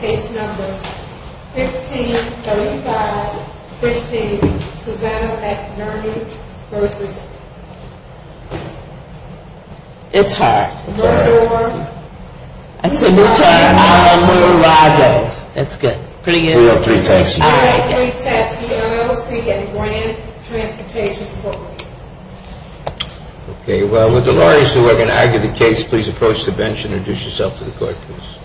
Case number 1535, Christine Suzanne McNerney v. It's her. Allamuradov. That's good. Pretty good. We have three texts. All right, three texts. The LLC and Grand Transportation Corporation. Okay, well, would the lawyers who are going to argue the case please approach the bench and introduce yourself to the court, please.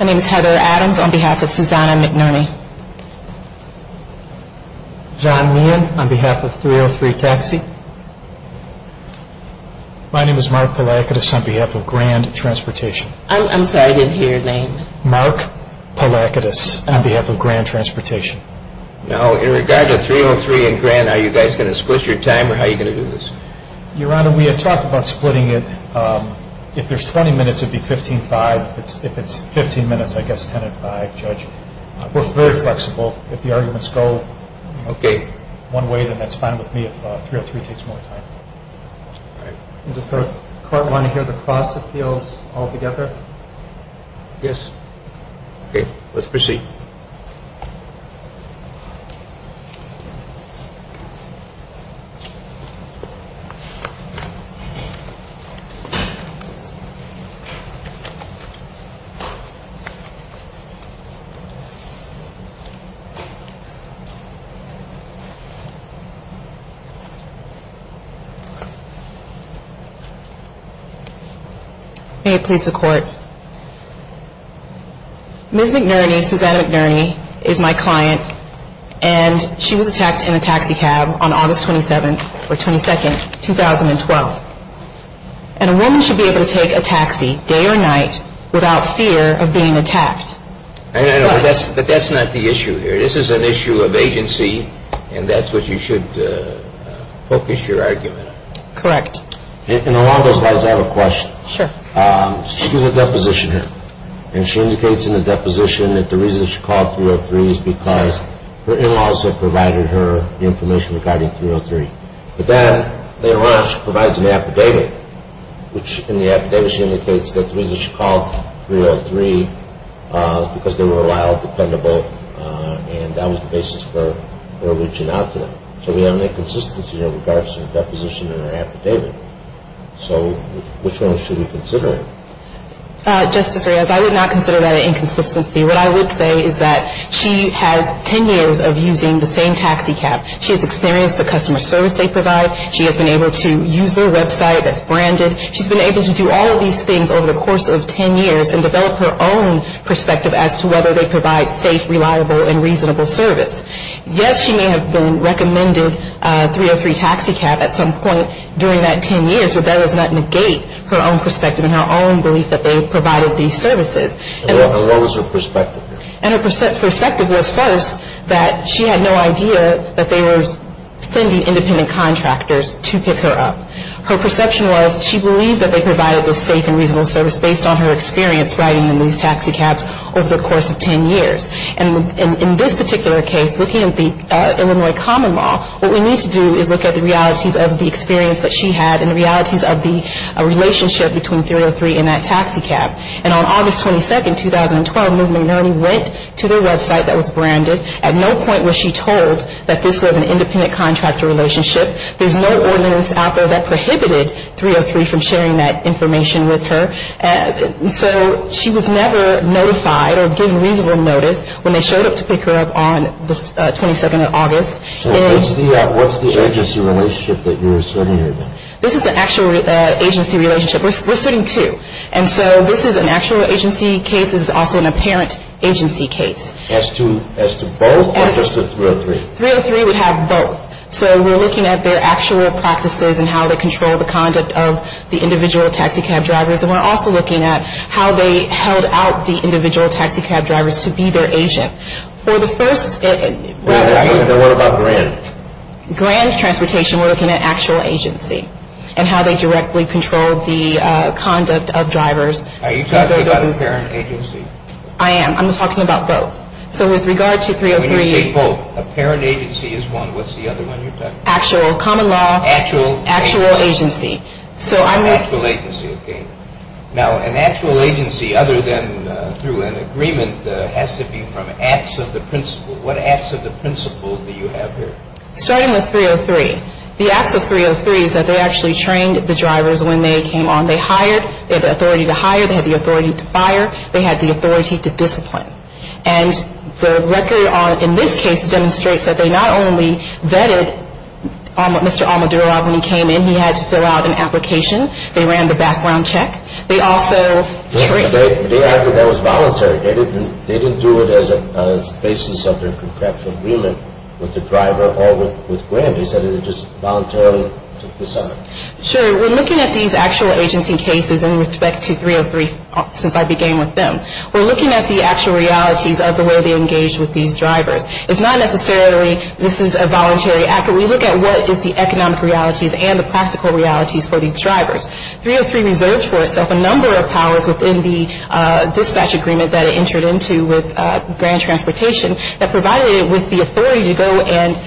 My name is Heather Adams on behalf of Suzanne McNerney. John Nguyen on behalf of 303 Taxi. My name is Mark Palakidis on behalf of Grand Transportation. I'm sorry, I didn't hear your name. Mark Palakidis on behalf of Grand Transportation. Now, in regard to 303 and Grand, are you guys going to split your time or how are you going to do this? Your Honor, we had talked about splitting it. If there's 20 minutes, it would be 15-5. If it's 15 minutes, I guess 10-5, Judge. We're very flexible. If the arguments go one way, then that's fine with me if 303 takes more time. Does the court want to hear the cross appeals altogether? Yes. Okay, let's proceed. May it please the Court. Ms. McNerney, Suzanne McNerney, is my client, and she was attacked in a taxi cab on August 27th, or 22nd, 2012. And a woman should be able to take a taxi, day or night, without fear of being attacked. I know, I know, but that's not the issue here. This is an issue of agency, and that's what you should focus your argument on. Correct. And along those lines, I have a question. Sure. She gives a deposition here, and she indicates in the deposition that the reason she called 303 is because her in-laws had provided her the information regarding 303. But then, later on, she provides an affidavit, which in the affidavit, she indicates that the reason she called 303 is because they were allowed, dependable, and that was the basis for her reaching out to them. So we have an inconsistency in regards to the deposition in her affidavit. So which one should we consider? Justice Reyes, I would not consider that an inconsistency. What I would say is that she has 10 years of using the same taxi cab. She has experienced the customer service they provide. She has been able to use their website that's branded. She's been able to do all of these things over the course of 10 years and develop her own perspective as to whether they provide safe, reliable, and reasonable service. Yes, she may have been recommended 303 Taxi Cab at some point during that 10 years, but that does not negate her own perspective and her own belief that they provided these services. And what was her perspective? And her perspective was first that she had no idea that they were sending independent contractors to pick her up. Her perception was she believed that they provided this safe and reasonable service based on her experience riding in these taxi cabs over the course of 10 years. And in this particular case, looking at the Illinois common law, what we need to do is look at the realities of the experience that she had and the realities of the relationship between 303 and that taxi cab. And on August 22nd, 2012, Ms. McNerney went to their website that was branded. At no point was she told that this was an independent contractor relationship. There's no ordinance out there that prohibited 303 from sharing that information with her. So she was never notified or given reasonable notice when they showed up to pick her up on the 22nd of August. So what's the agency relationship that you're asserting here then? This is an actual agency relationship. We're asserting two. And so this is an actual agency case. This is also an apparent agency case. As to both or just the 303? 303 would have both. So we're looking at their actual practices and how they control the conduct of the individual taxi cab drivers. And we're also looking at how they held out the individual taxi cab drivers to be their agent. For the first ‑‑ And what about Grand? Grand Transportation, we're looking at actual agency and how they directly control the conduct of drivers. Are you talking about an apparent agency? I am. I'm talking about both. So with regard to 303 ‑‑ When you say both, apparent agency is one. What's the other one you're talking about? Actual common law. Actual agency. Actual agency. So I'm ‑‑ Actual agency, okay. Now, an actual agency other than through an agreement has to be from acts of the principle. What acts of the principle do you have here? Starting with 303. The acts of 303 is that they actually trained the drivers when they came on. They hired. They had the authority to hire. They had the authority to fire. They had the authority to discipline. And the record in this case demonstrates that they not only vetted Mr. Almoduroff when he came in. He had to fill out an application. They ran the background check. They also trained ‑‑ They argued that was voluntary. They didn't do it as a basis of their contractual agreement with the driver or with Grand. They said it was just voluntarily. Sure. We're looking at these actual agency cases in respect to 303 since I began with them. We're looking at the actual realities of the way they engaged with these drivers. It's not necessarily this is a voluntary act, but we look at what is the economic realities and the practical realities for these drivers. 303 reserved for itself a number of powers within the dispatch agreement that it entered into with Grand Transportation that provided it with the authority to go and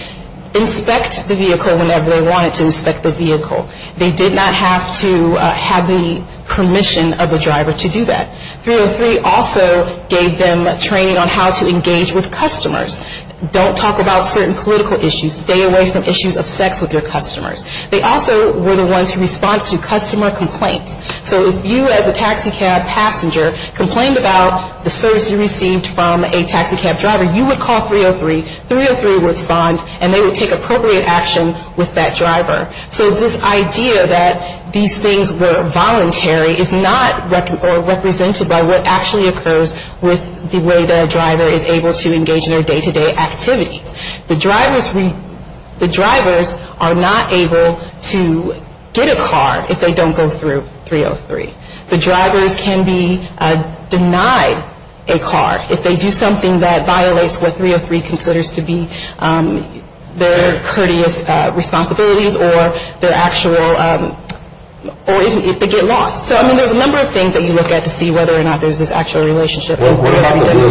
inspect the vehicle whenever they wanted to inspect the vehicle. They did not have to have the permission of the driver to do that. 303 also gave them training on how to engage with customers. Don't talk about certain political issues. Stay away from issues of sex with your customers. They also were the ones who responded to customer complaints. So if you as a taxicab passenger complained about the service you received from a taxicab driver, you would call 303. 303 would respond and they would take appropriate action with that driver. So this idea that these things were voluntary is not represented by what actually occurs with the way the driver is able to engage in their day-to-day activities. The drivers are not able to get a car if they don't go through 303. The drivers can be denied a car if they do something that violates what 303 considers to be their courteous responsibilities or their actual or if they get lost. So, I mean, there's a number of things that you look at to see whether or not there's this actual relationship. Was there anything on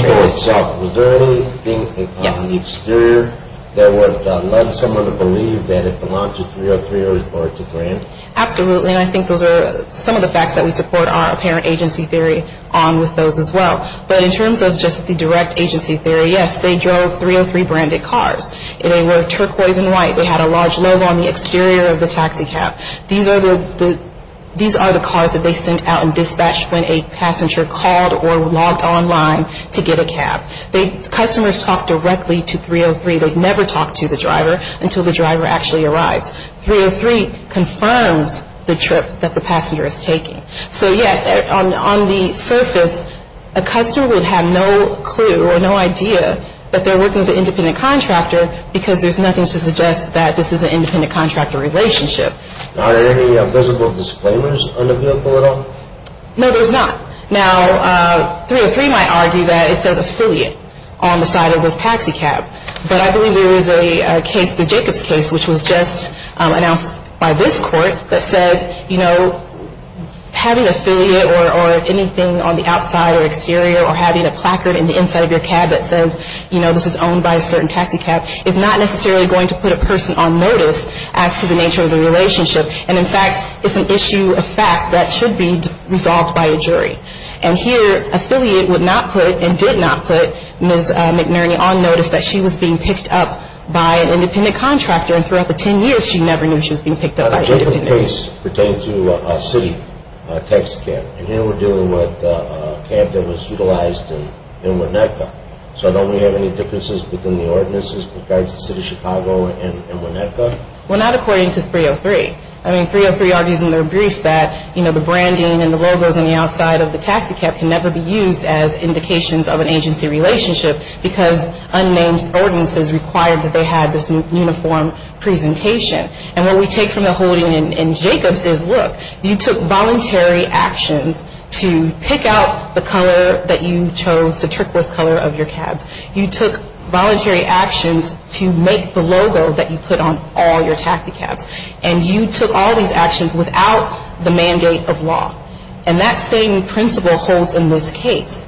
the exterior that would lead someone to believe that it belonged to 303 or to Grant? Absolutely, and I think those are some of the facts that we support our apparent agency theory on with those as well. But in terms of just the direct agency theory, yes, they drove 303-branded cars. They were turquoise and white. They had a large logo on the exterior of the taxicab. These are the cars that they sent out and dispatched when a passenger called or logged online to get a cab. Customers talked directly to 303. They never talked to the driver until the driver actually arrives. 303 confirms the trip that the passenger is taking. So, yes, on the surface, a customer would have no clue or no idea that they're working with an independent contractor because there's nothing to suggest that this is an independent contractor relationship. Are there any visible disclaimers on the vehicle at all? No, there's not. Now, 303 might argue that it says affiliate on the side of the taxicab, but I believe there is a case, the Jacobs case, which was just announced by this court that said, you know, having affiliate or anything on the outside or exterior or having a placard on the inside of your cab that says, you know, this is owned by a certain taxicab is not necessarily going to put a person on notice as to the nature of the relationship. And, in fact, it's an issue of facts that should be resolved by a jury. And here affiliate would not put and did not put Ms. McNerney on notice that she was being picked up by an independent contractor. And throughout the 10 years, she never knew she was being picked up by an independent contractor. The Jacobs case pertained to a city taxicab. And here we're dealing with a cab that was utilized in Winnebago. So don't we have any differences within the ordinances with regards to the City of Chicago and Winnebago? Well, not according to 303. I mean, 303 argues in their brief that, you know, the branding and the logos on the outside of the taxicab can never be used as indications of an agency relationship because unnamed ordinances required that they had this uniform presentation. And what we take from the holding in Jacobs is, look, you took voluntary actions to pick out the color that you chose, the turquoise color of your cabs. You took voluntary actions to make the logo that you put on all your taxicabs. And you took all these actions without the mandate of law. And that same principle holds in this case.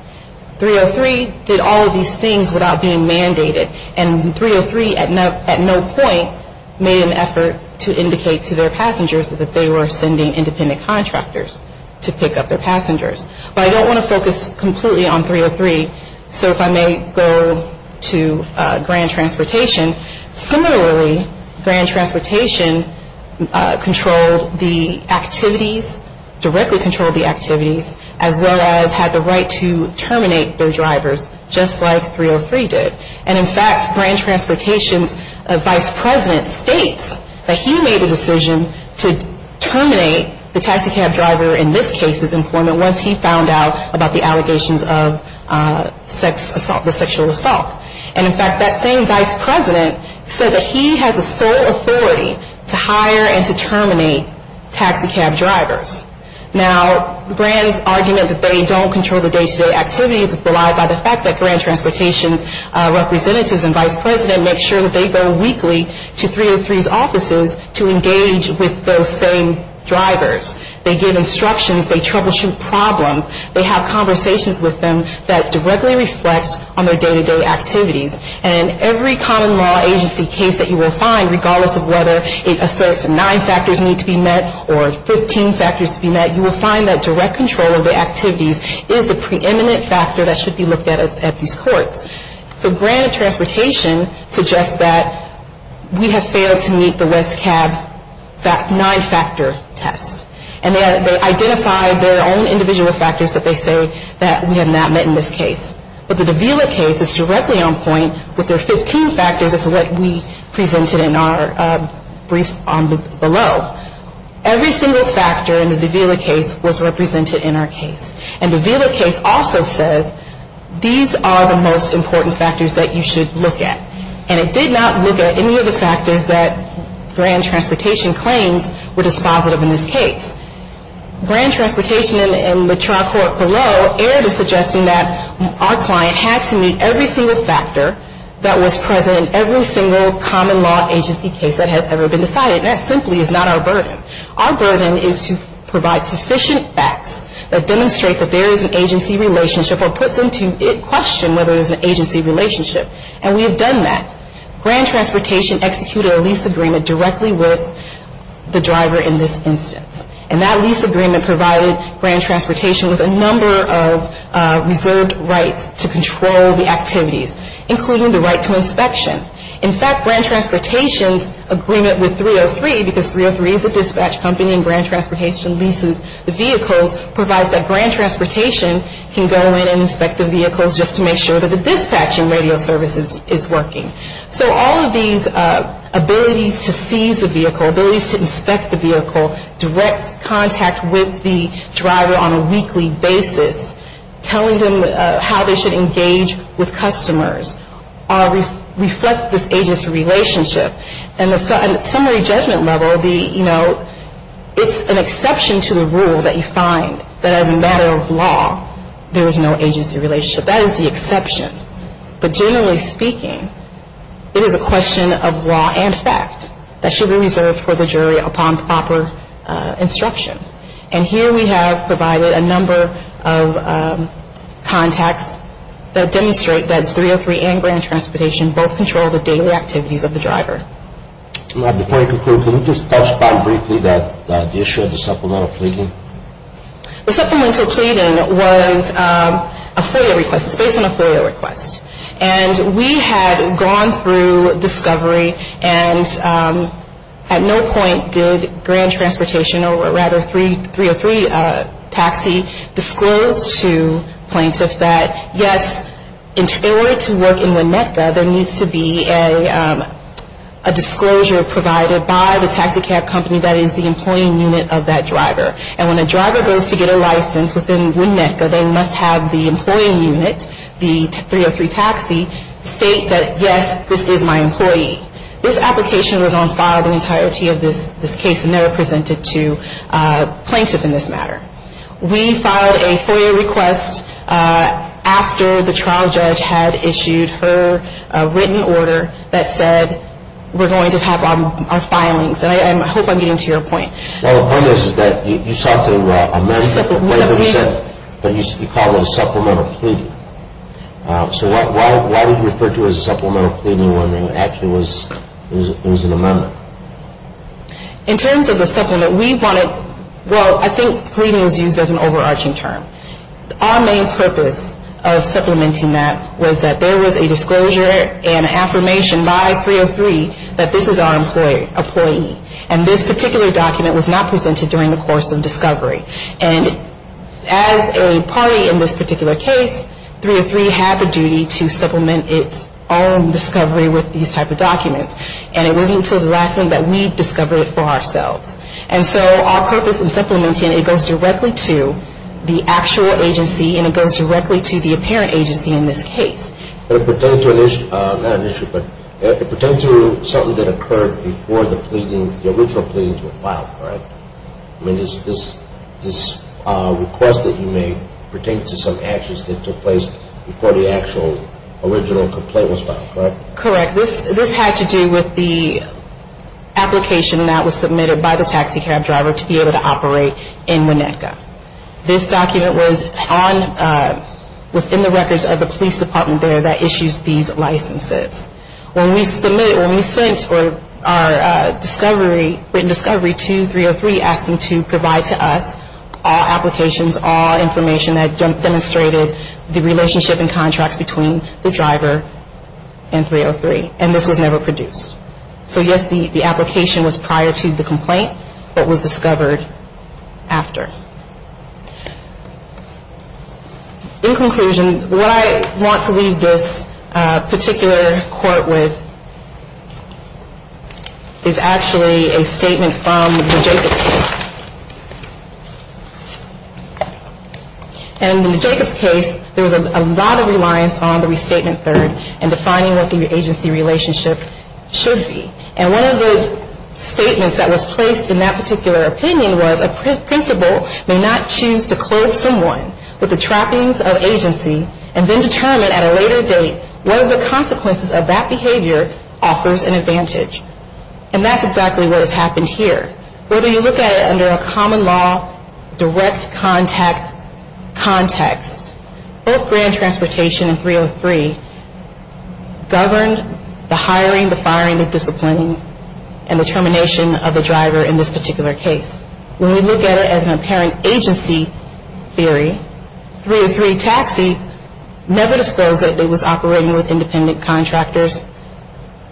303 did all of these things without being mandated. And 303 at no point made an effort to indicate to their passengers that they were sending independent contractors to pick up their passengers. But I don't want to focus completely on 303. So if I may go to Grand Transportation. Similarly, Grand Transportation controlled the activities, directly controlled the activities, as well as had the right to terminate their drivers just like 303 did. And in fact, Grand Transportation's vice president states that he made a decision to terminate the taxicab driver in this case's employment once he found out about the allegations of sex assault, the sexual assault. And in fact, that same vice president said that he has a sole authority to hire and to terminate taxicab drivers. Now, Grand's argument that they don't control the day-to-day activities is belied by the fact that Grand Transportation's representatives and vice president make sure that they go weekly to 303's offices to engage with those same drivers. They give instructions. They troubleshoot problems. They have conversations with them that directly reflect on their day-to-day activities. And every common law agency case that you will find, regardless of whether it asserts nine factors need to be met or 15 factors need to be met, you will find that direct control of the activities is the preeminent factor that should be looked at at these courts. So Grand Transportation suggests that we have failed to meet the WESCAB nine-factor test. And they identified their own individual factors that they say that we have not met in this case. But the Davila case is directly on point with their 15 factors as to what we presented in our briefs below. Every single factor in the Davila case was represented in our case. And the Davila case also says these are the most important factors that you should look at. And it did not look at any of the factors that Grand Transportation claims were dispositive in this case. Grand Transportation and the trial court below aired a suggestion that our client had to meet every single factor that was present in every single common law agency case that has ever been decided. And that simply is not our burden. Our burden is to provide sufficient facts that demonstrate that there is an agency relationship or puts into question whether there's an agency relationship. And we have done that. Grand Transportation executed a lease agreement directly with the driver in this instance. And that lease agreement provided Grand Transportation with a number of reserved rights to control the activities, including the right to inspection. In fact, Grand Transportation's agreement with 303, because 303 is a dispatch company and Grand Transportation leases the vehicles, provides that Grand Transportation can go in and inspect the vehicles just to make sure that the dispatching radio service is working. So all of these abilities to seize a vehicle, abilities to inspect the vehicle, direct contact with the driver on a weekly basis, telling them how they should engage with customers reflect this agency relationship. And at summary judgment level, you know, it's an exception to the rule that you find that as a matter of law, there is no agency relationship. That is the exception. But generally speaking, it is a question of law and fact that should be reserved for the jury upon proper instruction. And here we have provided a number of contacts that demonstrate that 303 and Grand Transportation both control the daily activities of the driver. Before I conclude, can you just touch upon briefly the issue of the supplemental pleading? The supplemental pleading was a FOIA request. It's based on a FOIA request. And we had gone through discovery and at no point did Grand Transportation or rather 303 Taxi disclose to plaintiffs that, yes, in order to work in Winnetka, there needs to be a disclosure provided by the taxicab company that is the employing unit of that driver. And when a driver goes to get a license within Winnetka, they must have the employing unit, the 303 Taxi, state that, yes, this is my employee. This application was on file the entirety of this case and never presented to plaintiffs in this matter. We filed a FOIA request after the trial judge had issued her written order that said we're going to have our filings. And I hope I'm getting to your point. Well, the point is that you sought to amend whatever you said, but you called it a supplemental pleading. So why did you refer to it as a supplemental pleading when it actually was an amendment? In terms of the supplement, we wanted, well, I think pleading is used as an overarching term. Our main purpose of supplementing that was that there was a disclosure and affirmation by 303 that this is our employee. And this particular document was not presented during the course of discovery. And as a party in this particular case, 303 had the duty to supplement its own discovery with these type of documents. And it wasn't until the last one that we discovered it for ourselves. And so our purpose in supplementing it goes directly to the actual agency and it goes directly to the apparent agency in this case. But it pertained to an issue, not an issue, but it pertained to something that occurred before the original pleadings were filed, correct? I mean, this request that you made pertained to some actions that took place before the actual original complaint was filed, correct? Correct. This had to do with the application that was submitted by the taxi cab driver to be able to operate in Winnetka. This document was on, was in the records of the police department there that issues these licenses. When we submit, when we sent our discovery, written discovery to 303 asking to provide to us all applications, all information that demonstrated the relationship and contracts between the driver and 303. And this was never produced. So yes, the application was prior to the complaint, but was discovered after. In conclusion, what I want to leave this particular court with is actually a statement from the Jacobs case. And in the Jacobs case, there was a lot of reliance on the restatement third and defining what the agency relationship should be. And one of the statements that was placed in that particular opinion was a principal may not choose to clothe someone with the trappings of agency and then determine at a later date what are the consequences of that behavior offers an advantage. And that's exactly what has happened here. Whether you look at it under a common law direct contact context, both Grand Transportation and 303 governed the hiring, the firing, the disciplining, and the termination of the driver in this particular case. When we look at it as an apparent agency theory, 303 taxi never disclosed that it was operating with independent contractors,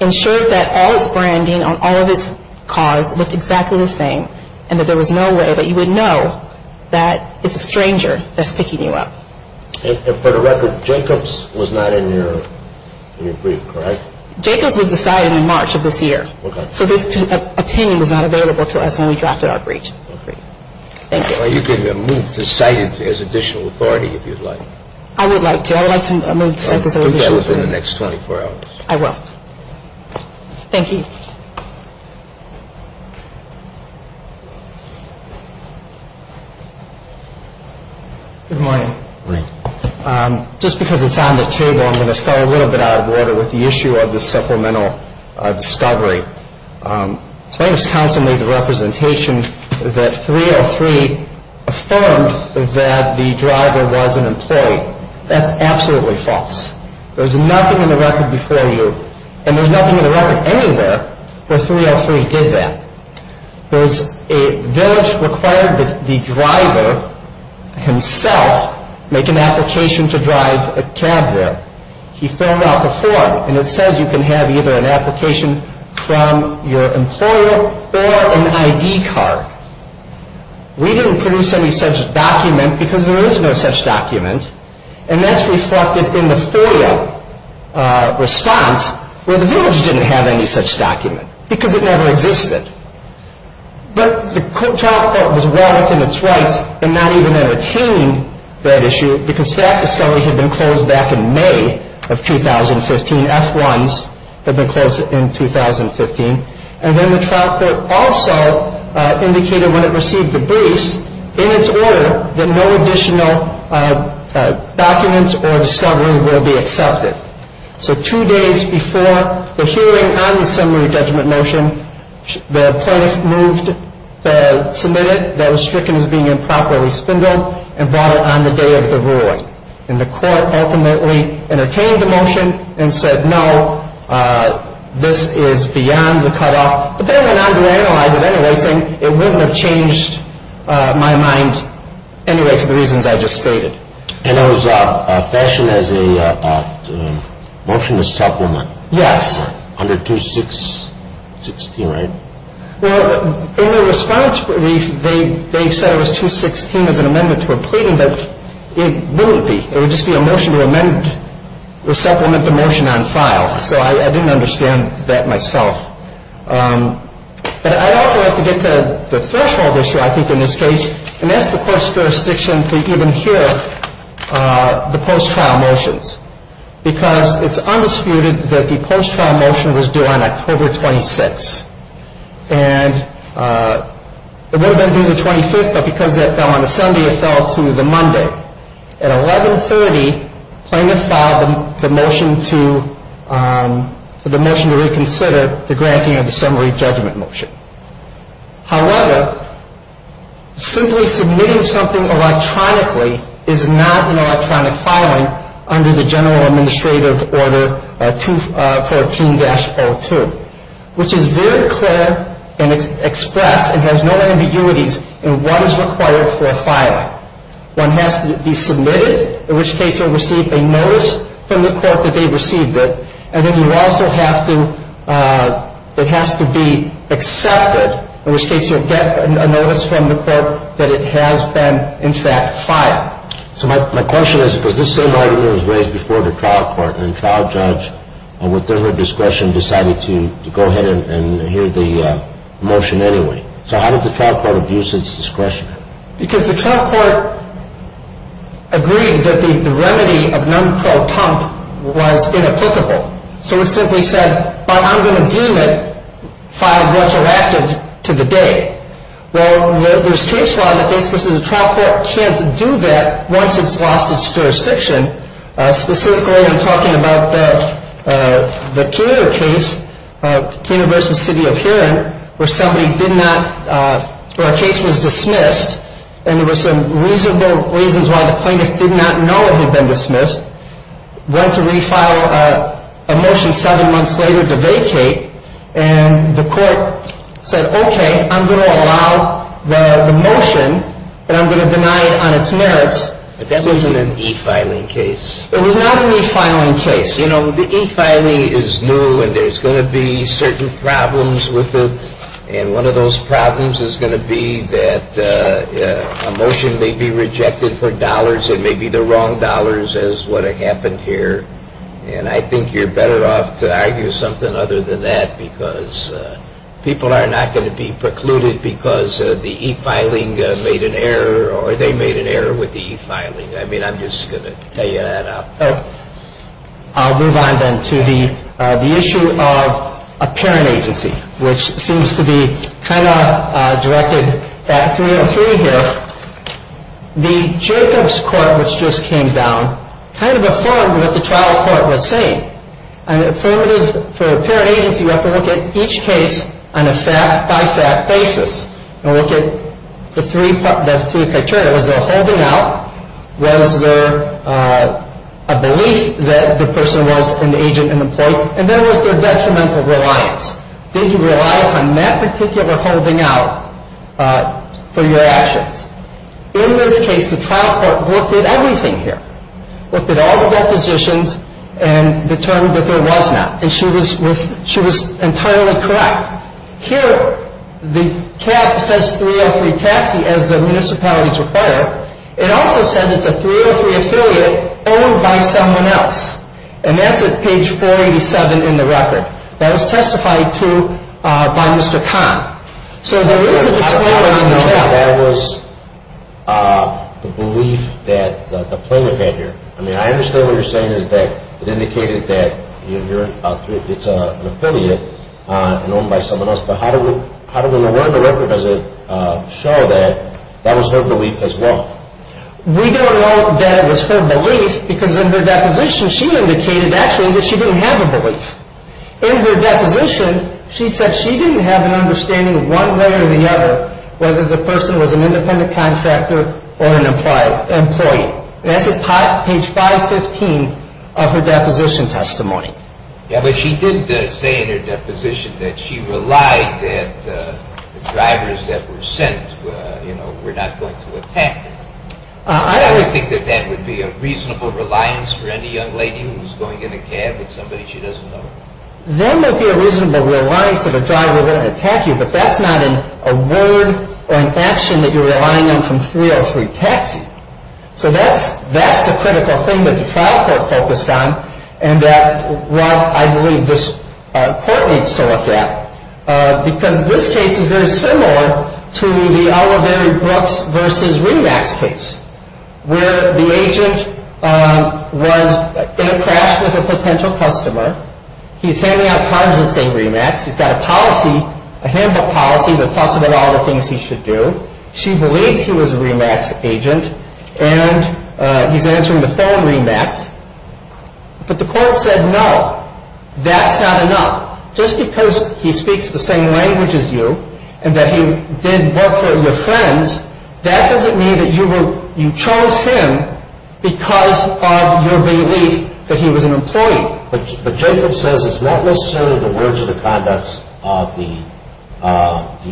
ensured that all its branding on all of its cars looked exactly the same, and that there was no way that you would know that it's a stranger that's picking you up. And for the record, Jacobs was not in your brief, correct? Jacobs was decided in March of this year. Okay. So this opinion was not available to us when we drafted our brief. Okay. Thank you. Well, you can move to cite it as additional authority if you'd like. I would like to. I would like to move to cite this as additional authority. I will. I will. Thank you. Good morning. Good morning. Just because it's on the table, I'm going to start a little bit out of order with the issue of the supplemental discovery. Plaintiffs Counsel made the representation that 303 affirmed that the driver was an employee. That's absolutely false. There's nothing in the record before you, and there's nothing in the record anywhere where 303 did that. There's a village required that the driver himself make an application to drive a cab there. He filled out the form, and it says you can have either an application from your employer or an ID card. We didn't produce any such document because there is no such document, and that's reflected in the FOIA response where the village didn't have any such document because it never existed. But the trial court was well within its rights in not even entertaining that issue because that discovery had been closed back in May of 2015. F1s had been closed in 2015. And then the trial court also indicated when it received the briefs, in its order, that no additional documents or discovery will be accepted. So two days before the hearing on the summary judgment motion, the plaintiff moved to submit it. That was stricken as being improperly spindled and brought it on the day of the ruling. And the court ultimately entertained the motion and said, no, this is beyond the cutoff. But then I went on to analyze it anyway, saying it wouldn't have changed my mind anyway for the reasons I just stated. And it was fashioned as a motion to supplement. Yes. Under 216, right? Well, in the response brief, they said it was 216 as an amendment to a pleading, but it wouldn't be. It would just be a motion to amend or supplement the motion on file. So I didn't understand that myself. But I also have to get to the threshold issue, I think, in this case, and that's the court's jurisdiction to even hear the post-trial motions because it's undisputed that the post-trial motion was due on October 26. And it would have been due the 25th, but because that fell on a Sunday, it fell to the Monday. At 1130, plaintiff filed the motion to reconsider the granting of the summary judgment motion. However, simply submitting something electronically is not an electronic filing under the general administrative order 214-02, which is very clear and express and has no ambiguities in what is required for a filing. One has to be submitted, in which case you'll receive a notice from the court that they received it, and then you also have to – it has to be accepted, in which case you'll get a notice from the court that it has been, in fact, filed. So my question is, because this same argument was raised before the trial court, and the trial judge, with their discretion, decided to go ahead and hear the motion anyway. So how did the trial court abuse its discretion? Because the trial court agreed that the remedy of non-pro-tump was inapplicable. So it simply said, well, I'm going to deem it filed retroactive to the day. Well, there's case law that basically says the trial court can't do that once it's lost its jurisdiction. Specifically, I'm talking about the Keener case, Keener v. City of Huron, where somebody did not – or a case was dismissed, and there were some reasonable reasons why the plaintiff did not know it had been dismissed, went to refile a motion seven months later to vacate, and the court said, okay, I'm going to allow the motion, and I'm going to deny it on its merits. But that wasn't an e-filing case. It was not an e-filing case. You know, the e-filing is new, and there's going to be certain problems with it. And one of those problems is going to be that a motion may be rejected for dollars. It may be the wrong dollars, as what happened here. And I think you're better off to argue something other than that, because people are not going to be precluded because the e-filing made an error, or they made an error with the e-filing. I mean, I'm just going to tell you that out loud. I'll move on then to the issue of apparent agency, which seems to be kind of directed back 303 here. The Jacobs Court, which just came down, kind of affirmed what the trial court was saying. An affirmative for apparent agency, you have to look at each case on a fact-by-fact basis and look at the three criteria. Was there a holding out? Was there a belief that the person was an agent and employee? And then was there detrimental reliance? Did you rely on that particular holding out for your actions? In this case, the trial court looked at everything here, looked at all the depositions and determined that there was not, and she was entirely correct. Here, the cap says 303 taxi as the municipalities require. It also says it's a 303 affiliate owned by someone else, and that's at page 487 in the record. That was testified to by Mr. Kahn. So there is a disclaimer in the draft. That was the belief that the plaintiff had here. I mean, I understand what you're saying is that it indicated that it's an affiliate and owned by someone else, but how do we know? Part of the record doesn't show that. That was her belief as well. We don't know that it was her belief because in her deposition, she indicated actually that she didn't have a belief. In her deposition, she said she didn't have an understanding one way or the other whether the person was an independent contractor or an employee. That's at page 515 of her deposition testimony. But she did say in her deposition that she relied that the drivers that were sent were not going to attack her. I would think that that would be a reasonable reliance for any young lady who's going in a cab with somebody she doesn't know. That would be a reasonable reliance if a driver were going to attack you, but that's not a word or an action that you're relying on from 303 taxi. So that's the critical thing that the trial court focused on, and that what I believe this court needs to look at because this case is very similar to the Oliveri-Brooks v. Remax case where the agent was in a crash with a potential customer. He's handing out cards that say Remax. He's got a policy, a handbook policy that talks about all the things he should do. She believes he was a Remax agent, and he's answering the phone Remax. But the court said no, that's not enough. Just because he speaks the same language as you and that he did work for your friends, that doesn't mean that you chose him because of your belief that he was an employee. But Jacob says it's not necessarily the words or the conducts of the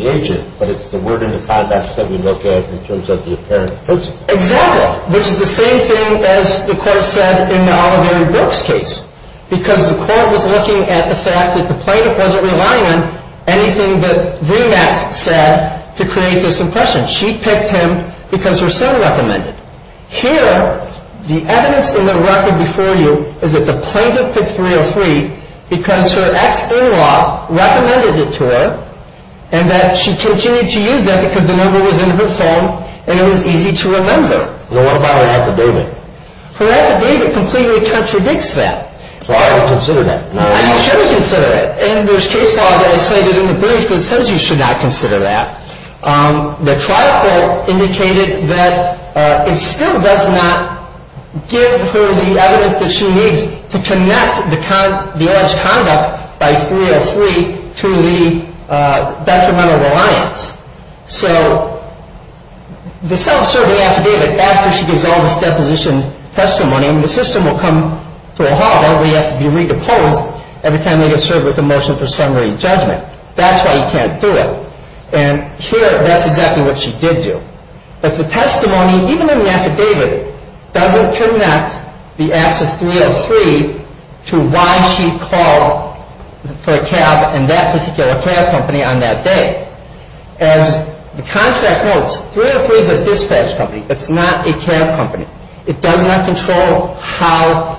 agent, but it's the word or the conducts that we look at in terms of the apparent person. Exactly, which is the same thing as the court said in the Oliveri-Brooks case because the court was looking at the fact that the plaintiff wasn't relying on anything that Remax said to create this impression. She picked him because her son recommended it. Here, the evidence in the record before you is that the plaintiff picked 303 because her ex-in-law recommended it to her and that she continued to use that because the number was in her phone and it was easy to remember. What about her affidavit? Her affidavit completely contradicts that. So I don't consider that. You should consider it. And there's case law that I cited in the brief that says you should not consider that. The trial court indicated that it still does not give her the evidence that she needs to connect the alleged conduct by 303 to the detrimental reliance. So the self-serving affidavit, after she gives all this deposition testimony, the system will come to a halt. Everybody has to be re-deposed every time they get served with a motion for summary judgment. That's why you can't do it. And here, that's exactly what she did do. But the testimony, even in the affidavit, doesn't connect the acts of 303 to why she called for a cab in that particular cab company on that day. As the contract notes, 303 is a dispatch company. It's not a cab company. It does not control how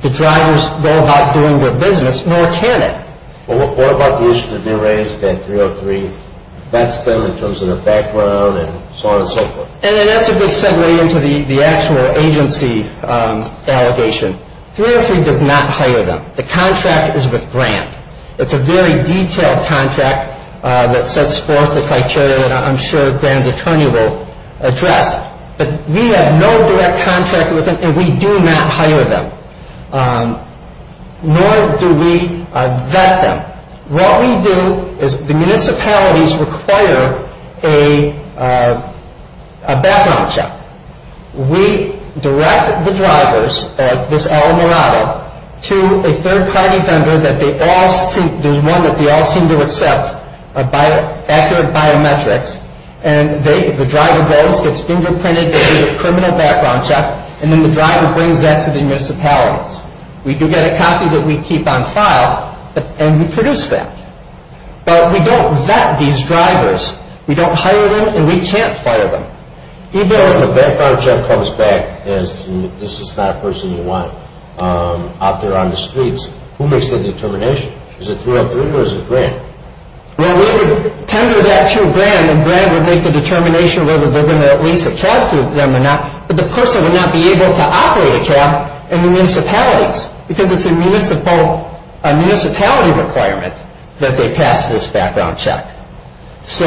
the drivers go about doing their business, nor can it. What about the issue that they raised that 303 vets them in terms of their background and so on and so forth? And that's a good segue into the actual agency allegation. 303 does not hire them. The contract is with Grant. It's a very detailed contract that sets forth the criteria that I'm sure Grant's attorney will address. But we have no direct contract with them, and we do not hire them. Nor do we vet them. What we do is the municipalities require a background check. We direct the drivers at this Alamirado to a third-party vendor that they all seem to accept accurate biometrics, and the driver goes, gets fingerprinted, gets a criminal background check, and then the driver brings that to the municipalities. We do get a copy that we keep on file, and we produce that. But we don't vet these drivers. We don't hire them, and we can't fire them. So when the background check comes back as this is not a person you want out there on the streets, who makes that determination? Is it 303 or is it Grant? Well, we would tender that to Grant, and Grant would make the determination whether they're going to at least a cab to them or not. But the person would not be able to operate a cab in the municipalities because it's a municipality requirement that they pass this background check. So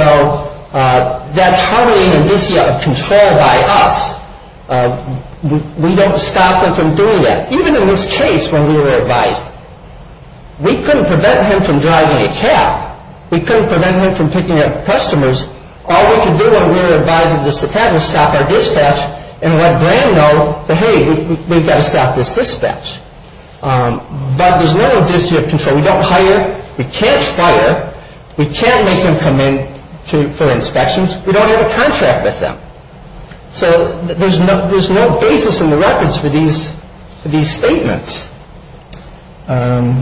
that's hardly an indicia of control by us. We don't stop them from doing that. Even in this case when we were advised, we couldn't prevent him from driving a cab. We couldn't prevent him from picking up customers. All we can do when we're advised of this attack is stop our dispatch and let Grant know that, hey, we've got to stop this dispatch. But there's no issue of control. We don't hire. We can't fire. We can't make him come in for inspections. We don't have a contract with them. So there's no basis in the records for these statements. The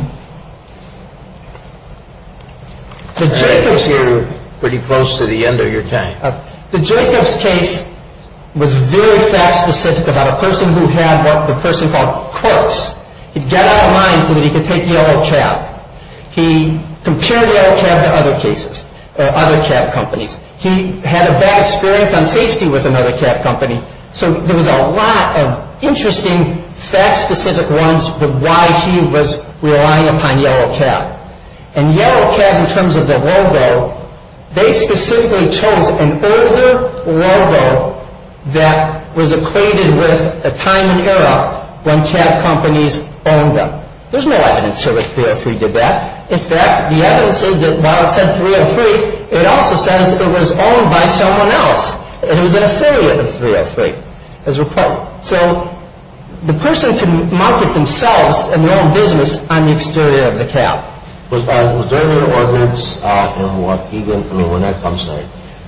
Jacobs case was very fact-specific about a person who had what the person called quirks. He'd get off the line so that he could take the yellow cab. He compared the yellow cab to other cases, other cab companies. He had a bad experience on safety with another cab company. So there was a lot of interesting fact-specific runs where he could take the yellow cab was relying upon yellow cab. And yellow cab in terms of the logo, they specifically chose an older logo that was equated with a time and era when cab companies owned them. There's no evidence here that 303 did that. In fact, the evidence says that while it said 303, it also says it was owned by someone else. It was an affiliate of 303 as reported. So the person could market themselves and their own business on the exterior of the cab. Was there any ordinance in Wonecta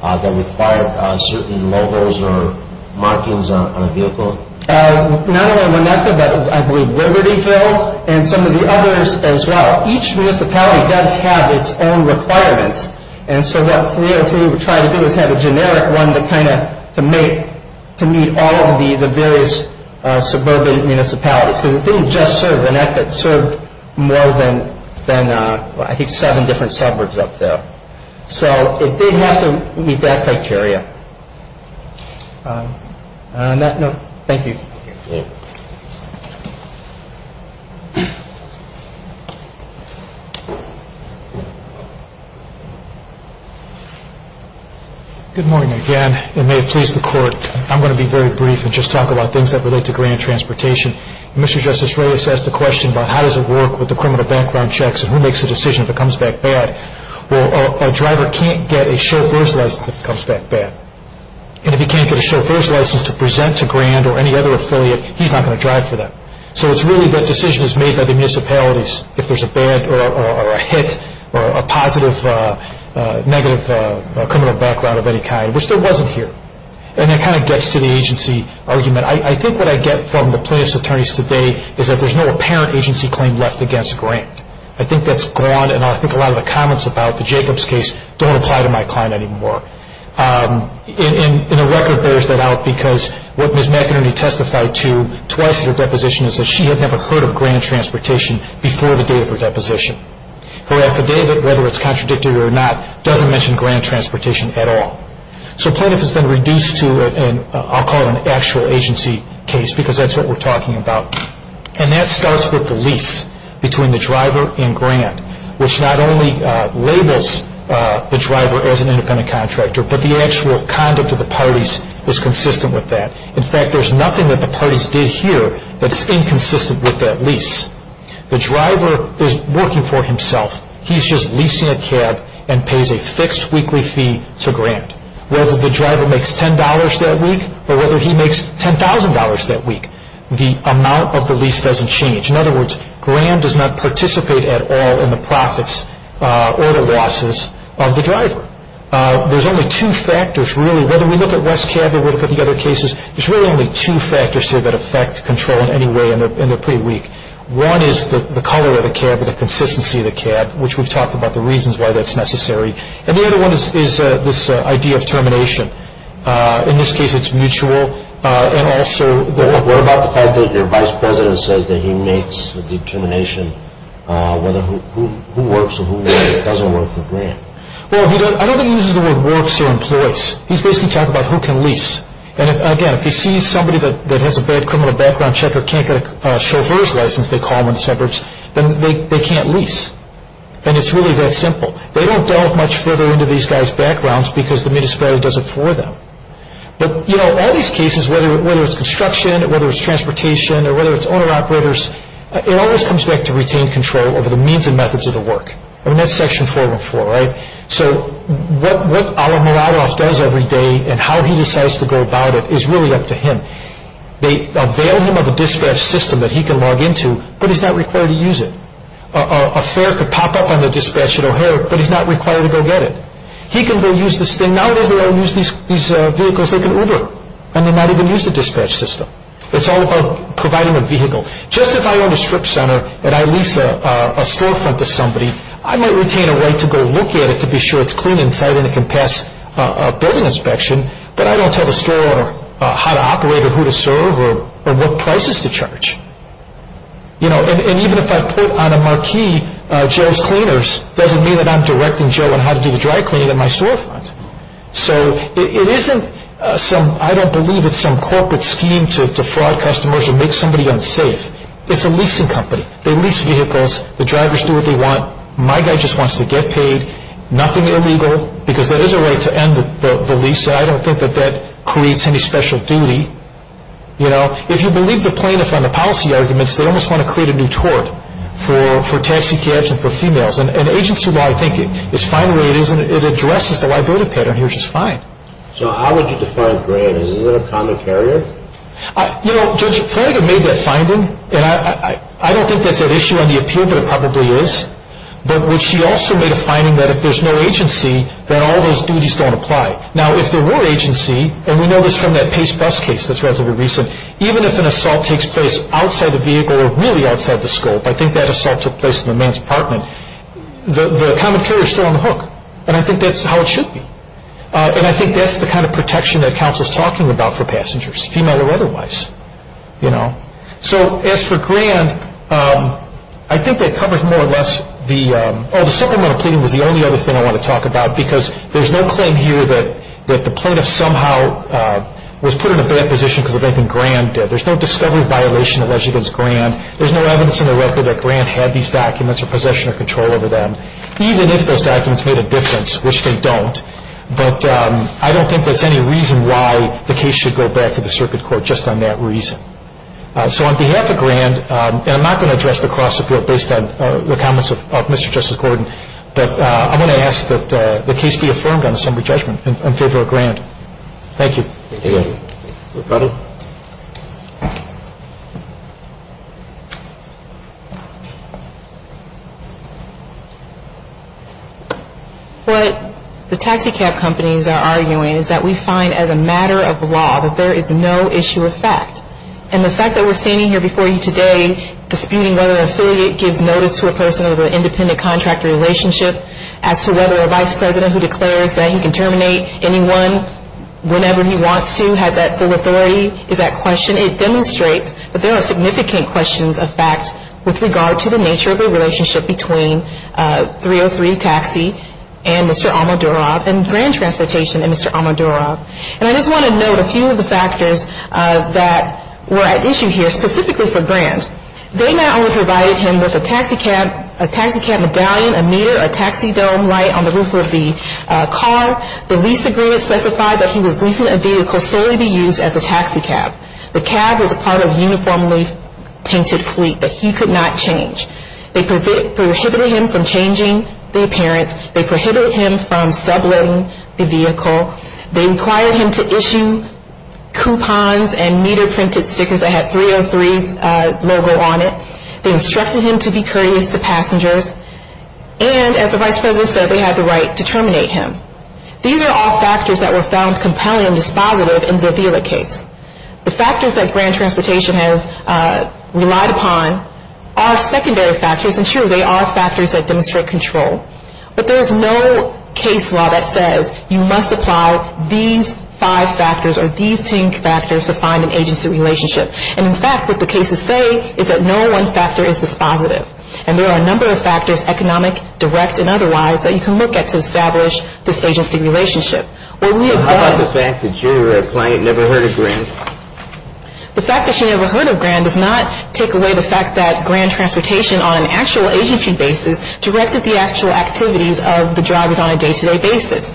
that required certain logos or markings on a vehicle? Not only Wonecta, but I believe Libertyville and some of the others as well. Each municipality does have its own requirements. And so what 303 would try to do is have a generic one to kind of make it to meet all of the various suburban municipalities. Because it didn't just serve Wonecta. It served more than I think seven different suburbs up there. So it did have to meet that criteria. Thank you. Thank you. Good morning again. It may have pleased the court. I'm going to be very brief and just talk about things that relate to grand transportation. Mr. Justice Reyes asked a question about how does it work with the criminal background checks and who makes the decision if it comes back bad. Well, a driver can't get a chauffeur's license if it comes back bad. And if he can't get a chauffeur's license to present to Grand or any other affiliate, he's not going to drive for them. So it's really that decision is made by the municipalities if there's a bad or a hit or a positive negative criminal background of any kind, which there wasn't here. And that kind of gets to the agency argument. I think what I get from the plaintiff's attorneys today is that there's no apparent agency claim left against Grand. I think that's gone. And I think a lot of the comments about the Jacobs case don't apply to my client anymore. And the record bears that out because what Ms. McInerney testified to twice in her deposition is that she had never heard of grand transportation before the day of her deposition. Her affidavit, whether it's contradicted or not, doesn't mention grand transportation at all. So the plaintiff has been reduced to, I'll call it an actual agency case, because that's what we're talking about. And that starts with the lease between the driver and Grand, which not only labels the driver as an independent contractor, but the actual conduct of the parties is consistent with that. In fact, there's nothing that the parties did here that's inconsistent with that lease. The driver is working for himself. He's just leasing a cab and pays a fixed weekly fee to Grand, whether the driver makes $10 that week or whether he makes $10,000 that week. The amount of the lease doesn't change. In other words, Grand does not participate at all in the profits or the losses of the driver. There's only two factors, really. Whether we look at West Cab or we look at the other cases, there's really only two factors here that affect control in any way, and they're pretty weak. One is the color of the cab or the consistency of the cab, which we've talked about the reasons why that's necessary. And the other one is this idea of termination. In this case, it's mutual. What about the fact that your vice president says that he makes the determination whether who works and who doesn't work for Grand? Well, I don't think he uses the word works or employs. He's basically talking about who can lease. And, again, if he sees somebody that has a bad criminal background check or can't get a chauffeur's license, they call them in the suburbs, then they can't lease. And it's really that simple. They don't delve much further into these guys' backgrounds because the municipality does it for them. But, you know, all these cases, whether it's construction, whether it's transportation, or whether it's owner-operators, it always comes back to retain control over the means and methods of the work. I mean, that's Section 414, right? So what Alan Muradov does every day and how he decides to go about it is really up to him. They avail him of a dispatch system that he can log into, but he's not required to use it. A fare could pop up on the dispatch at O'Hare, but he's not required to go get it. He can go use this thing. Nowadays, they all use these vehicles like an Uber, and they might even use the dispatch system. It's all about providing a vehicle. Just if I own a strip center and I lease a storefront to somebody, I might retain a right to go look at it to be sure it's clean inside and it can pass a building inspection, but I don't tell the store how to operate or who to serve or what prices to charge. And even if I put on a marquee Joe's Cleaners, it doesn't mean that I'm directing Joe on how to do the dry cleaning at my storefront. So it isn't some, I don't believe it's some corporate scheme to fraud customers or make somebody unsafe. It's a leasing company. They lease vehicles. The drivers do what they want. My guy just wants to get paid. Nothing illegal because there is a right to end the lease, and I don't think that that creates any special duty. If you believe the plaintiff on the policy arguments, they almost want to create a new tort for taxicabs and for females, and agency-wide thinking is fine the way it is, and it addresses the liability pattern here, which is fine. So how would you define granted? Is it a common carrier? Judge Flanagan made that finding, and I don't think that's an issue on the appeal, but it probably is. But she also made a finding that if there's no agency, then all those duties don't apply. Now, if there were agency, and we know this from that Pace bus case that's relatively recent, even if an assault takes place outside the vehicle or really outside the scope, I think that assault took place in the man's apartment, the common carrier is still on the hook, and I think that's how it should be. And I think that's the kind of protection that counsel is talking about for passengers, female or otherwise. So as for grant, I think that covers more or less the, oh, the supplemental pleading was the only other thing I want to talk about because there's no claim here that the plaintiff somehow was put in a bad position because of anything Grant did. There's no discovery of violation alleged against Grant. There's no evidence in the record that Grant had these documents or possession or control over them, even if those documents made a difference, which they don't. But I don't think there's any reason why the case should go back to the circuit court just on that reason. So on behalf of Grant, and I'm not going to address the cross-appeal based on the comments of Mr. Justice Gordon, but I'm going to ask that the case be affirmed on assembly judgment in favor of Grant. Thank you. Thank you. What the taxicab companies are arguing is that we find as a matter of law that there is no issue of fact. And the fact that we're standing here before you today disputing whether an affiliate gives notice to a person with an independent contractor relationship, as to whether a vice president who declares that he can terminate anyone whenever he wants to has that full authority, is at question. It demonstrates that there are significant questions of fact with regard to the nature of the relationship between 303 Taxi and Mr. Amadorov and Grant Transportation and Mr. Amadorov. And I just want to note a few of the factors that were at issue here, specifically for Grant. They not only provided him with a taxicab, a taxicab medallion, a meter, a taxidome light on the roof of the car, the lease agreement specified that he was leasing a vehicle solely to be used as a taxicab. The cab was a part of a uniformly painted fleet that he could not change. They prohibited him from changing the appearance. They prohibited him from subletting the vehicle. They required him to issue coupons and meter printed stickers that had 303's logo on it. They instructed him to be courteous to passengers. And, as the vice president said, they had the right to terminate him. These are all factors that were found compelling and dispositive in the Avila case. The factors that Grant Transportation has relied upon are secondary factors. And sure, they are factors that demonstrate control. But there is no case law that says you must apply these five factors or these ten factors to find an agency relationship. And, in fact, what the cases say is that no one factor is dispositive. And there are a number of factors, economic, direct, and otherwise, that you can look at to establish this agency relationship. Well, we have done. How about the fact that your client never heard of Grant? The fact that she never heard of Grant does not take away the fact that Grant Transportation, on an actual agency basis, directed the actual activities of the drivers on a day-to-day basis.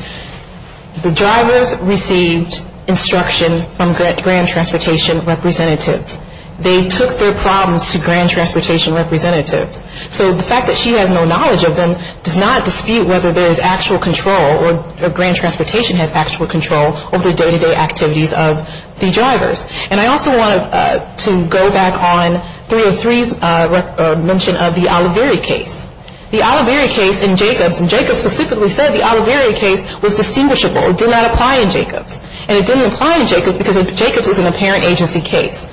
The drivers received instruction from Grant Transportation representatives. They took their problems to Grant Transportation representatives. So the fact that she has no knowledge of them does not dispute whether there is actual control or Grant Transportation has actual control over the day-to-day activities of the drivers. And I also wanted to go back on 303's mention of the Oliveri case. The Oliveri case in Jacobs. And Jacobs specifically said the Oliveri case was distinguishable. It did not apply in Jacobs. And it didn't apply in Jacobs because Jacobs is an apparent agency case.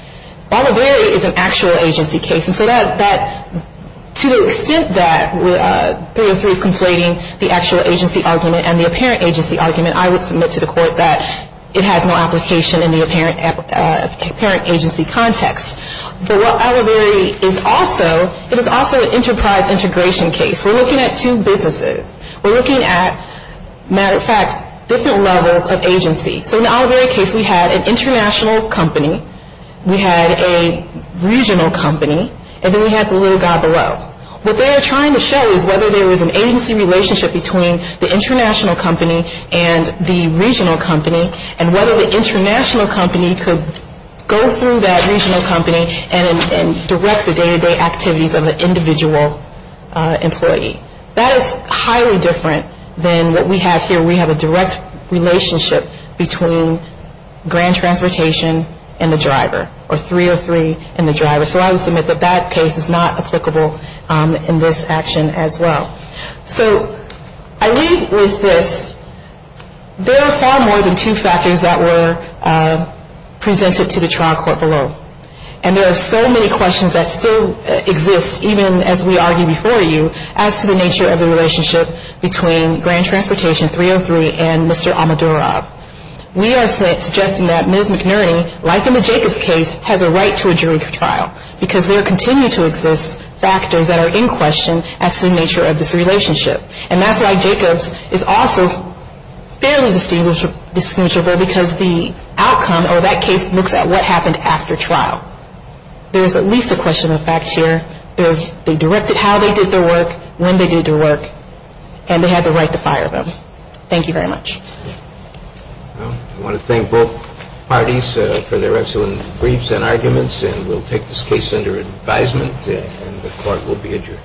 Oliveri is an actual agency case. And so to the extent that 303 is conflating the actual agency argument and the apparent agency argument, I would submit to the court that it has no application in the apparent agency context. But what Oliveri is also, it is also an enterprise integration case. We're looking at two businesses. We're looking at, matter of fact, different levels of agency. So in the Oliveri case, we had an international company. We had a regional company. And then we had the little guy below. What they are trying to show is whether there was an agency relationship between the international company and the regional company and whether the international company could go through that regional company and direct the day-to-day activities of the individual employee. That is highly different than what we have here. We have a direct relationship between Grant Transportation and the driver or 303 and the driver. So I would submit that that case is not applicable in this action as well. So I leave with this. There are far more than two factors that were presented to the trial court below. And there are so many questions that still exist, even as we argue before you, as to the nature of the relationship between Grant Transportation, 303, and Mr. Amadorov. We are suggesting that Ms. McNerney, like in the Jacobs case, has a right to a jury trial because there continue to exist factors that are in question as to the nature of this relationship. And that's why Jacobs is also fairly distinguishable because the outcome or that case looks at what happened after trial. There is at least a question of facts here. They directed how they did their work, when they did their work, and they had the right to fire them. Thank you very much. I want to thank both parties for their excellent briefs and arguments, and we'll take this case under advisement and the court will be adjourned.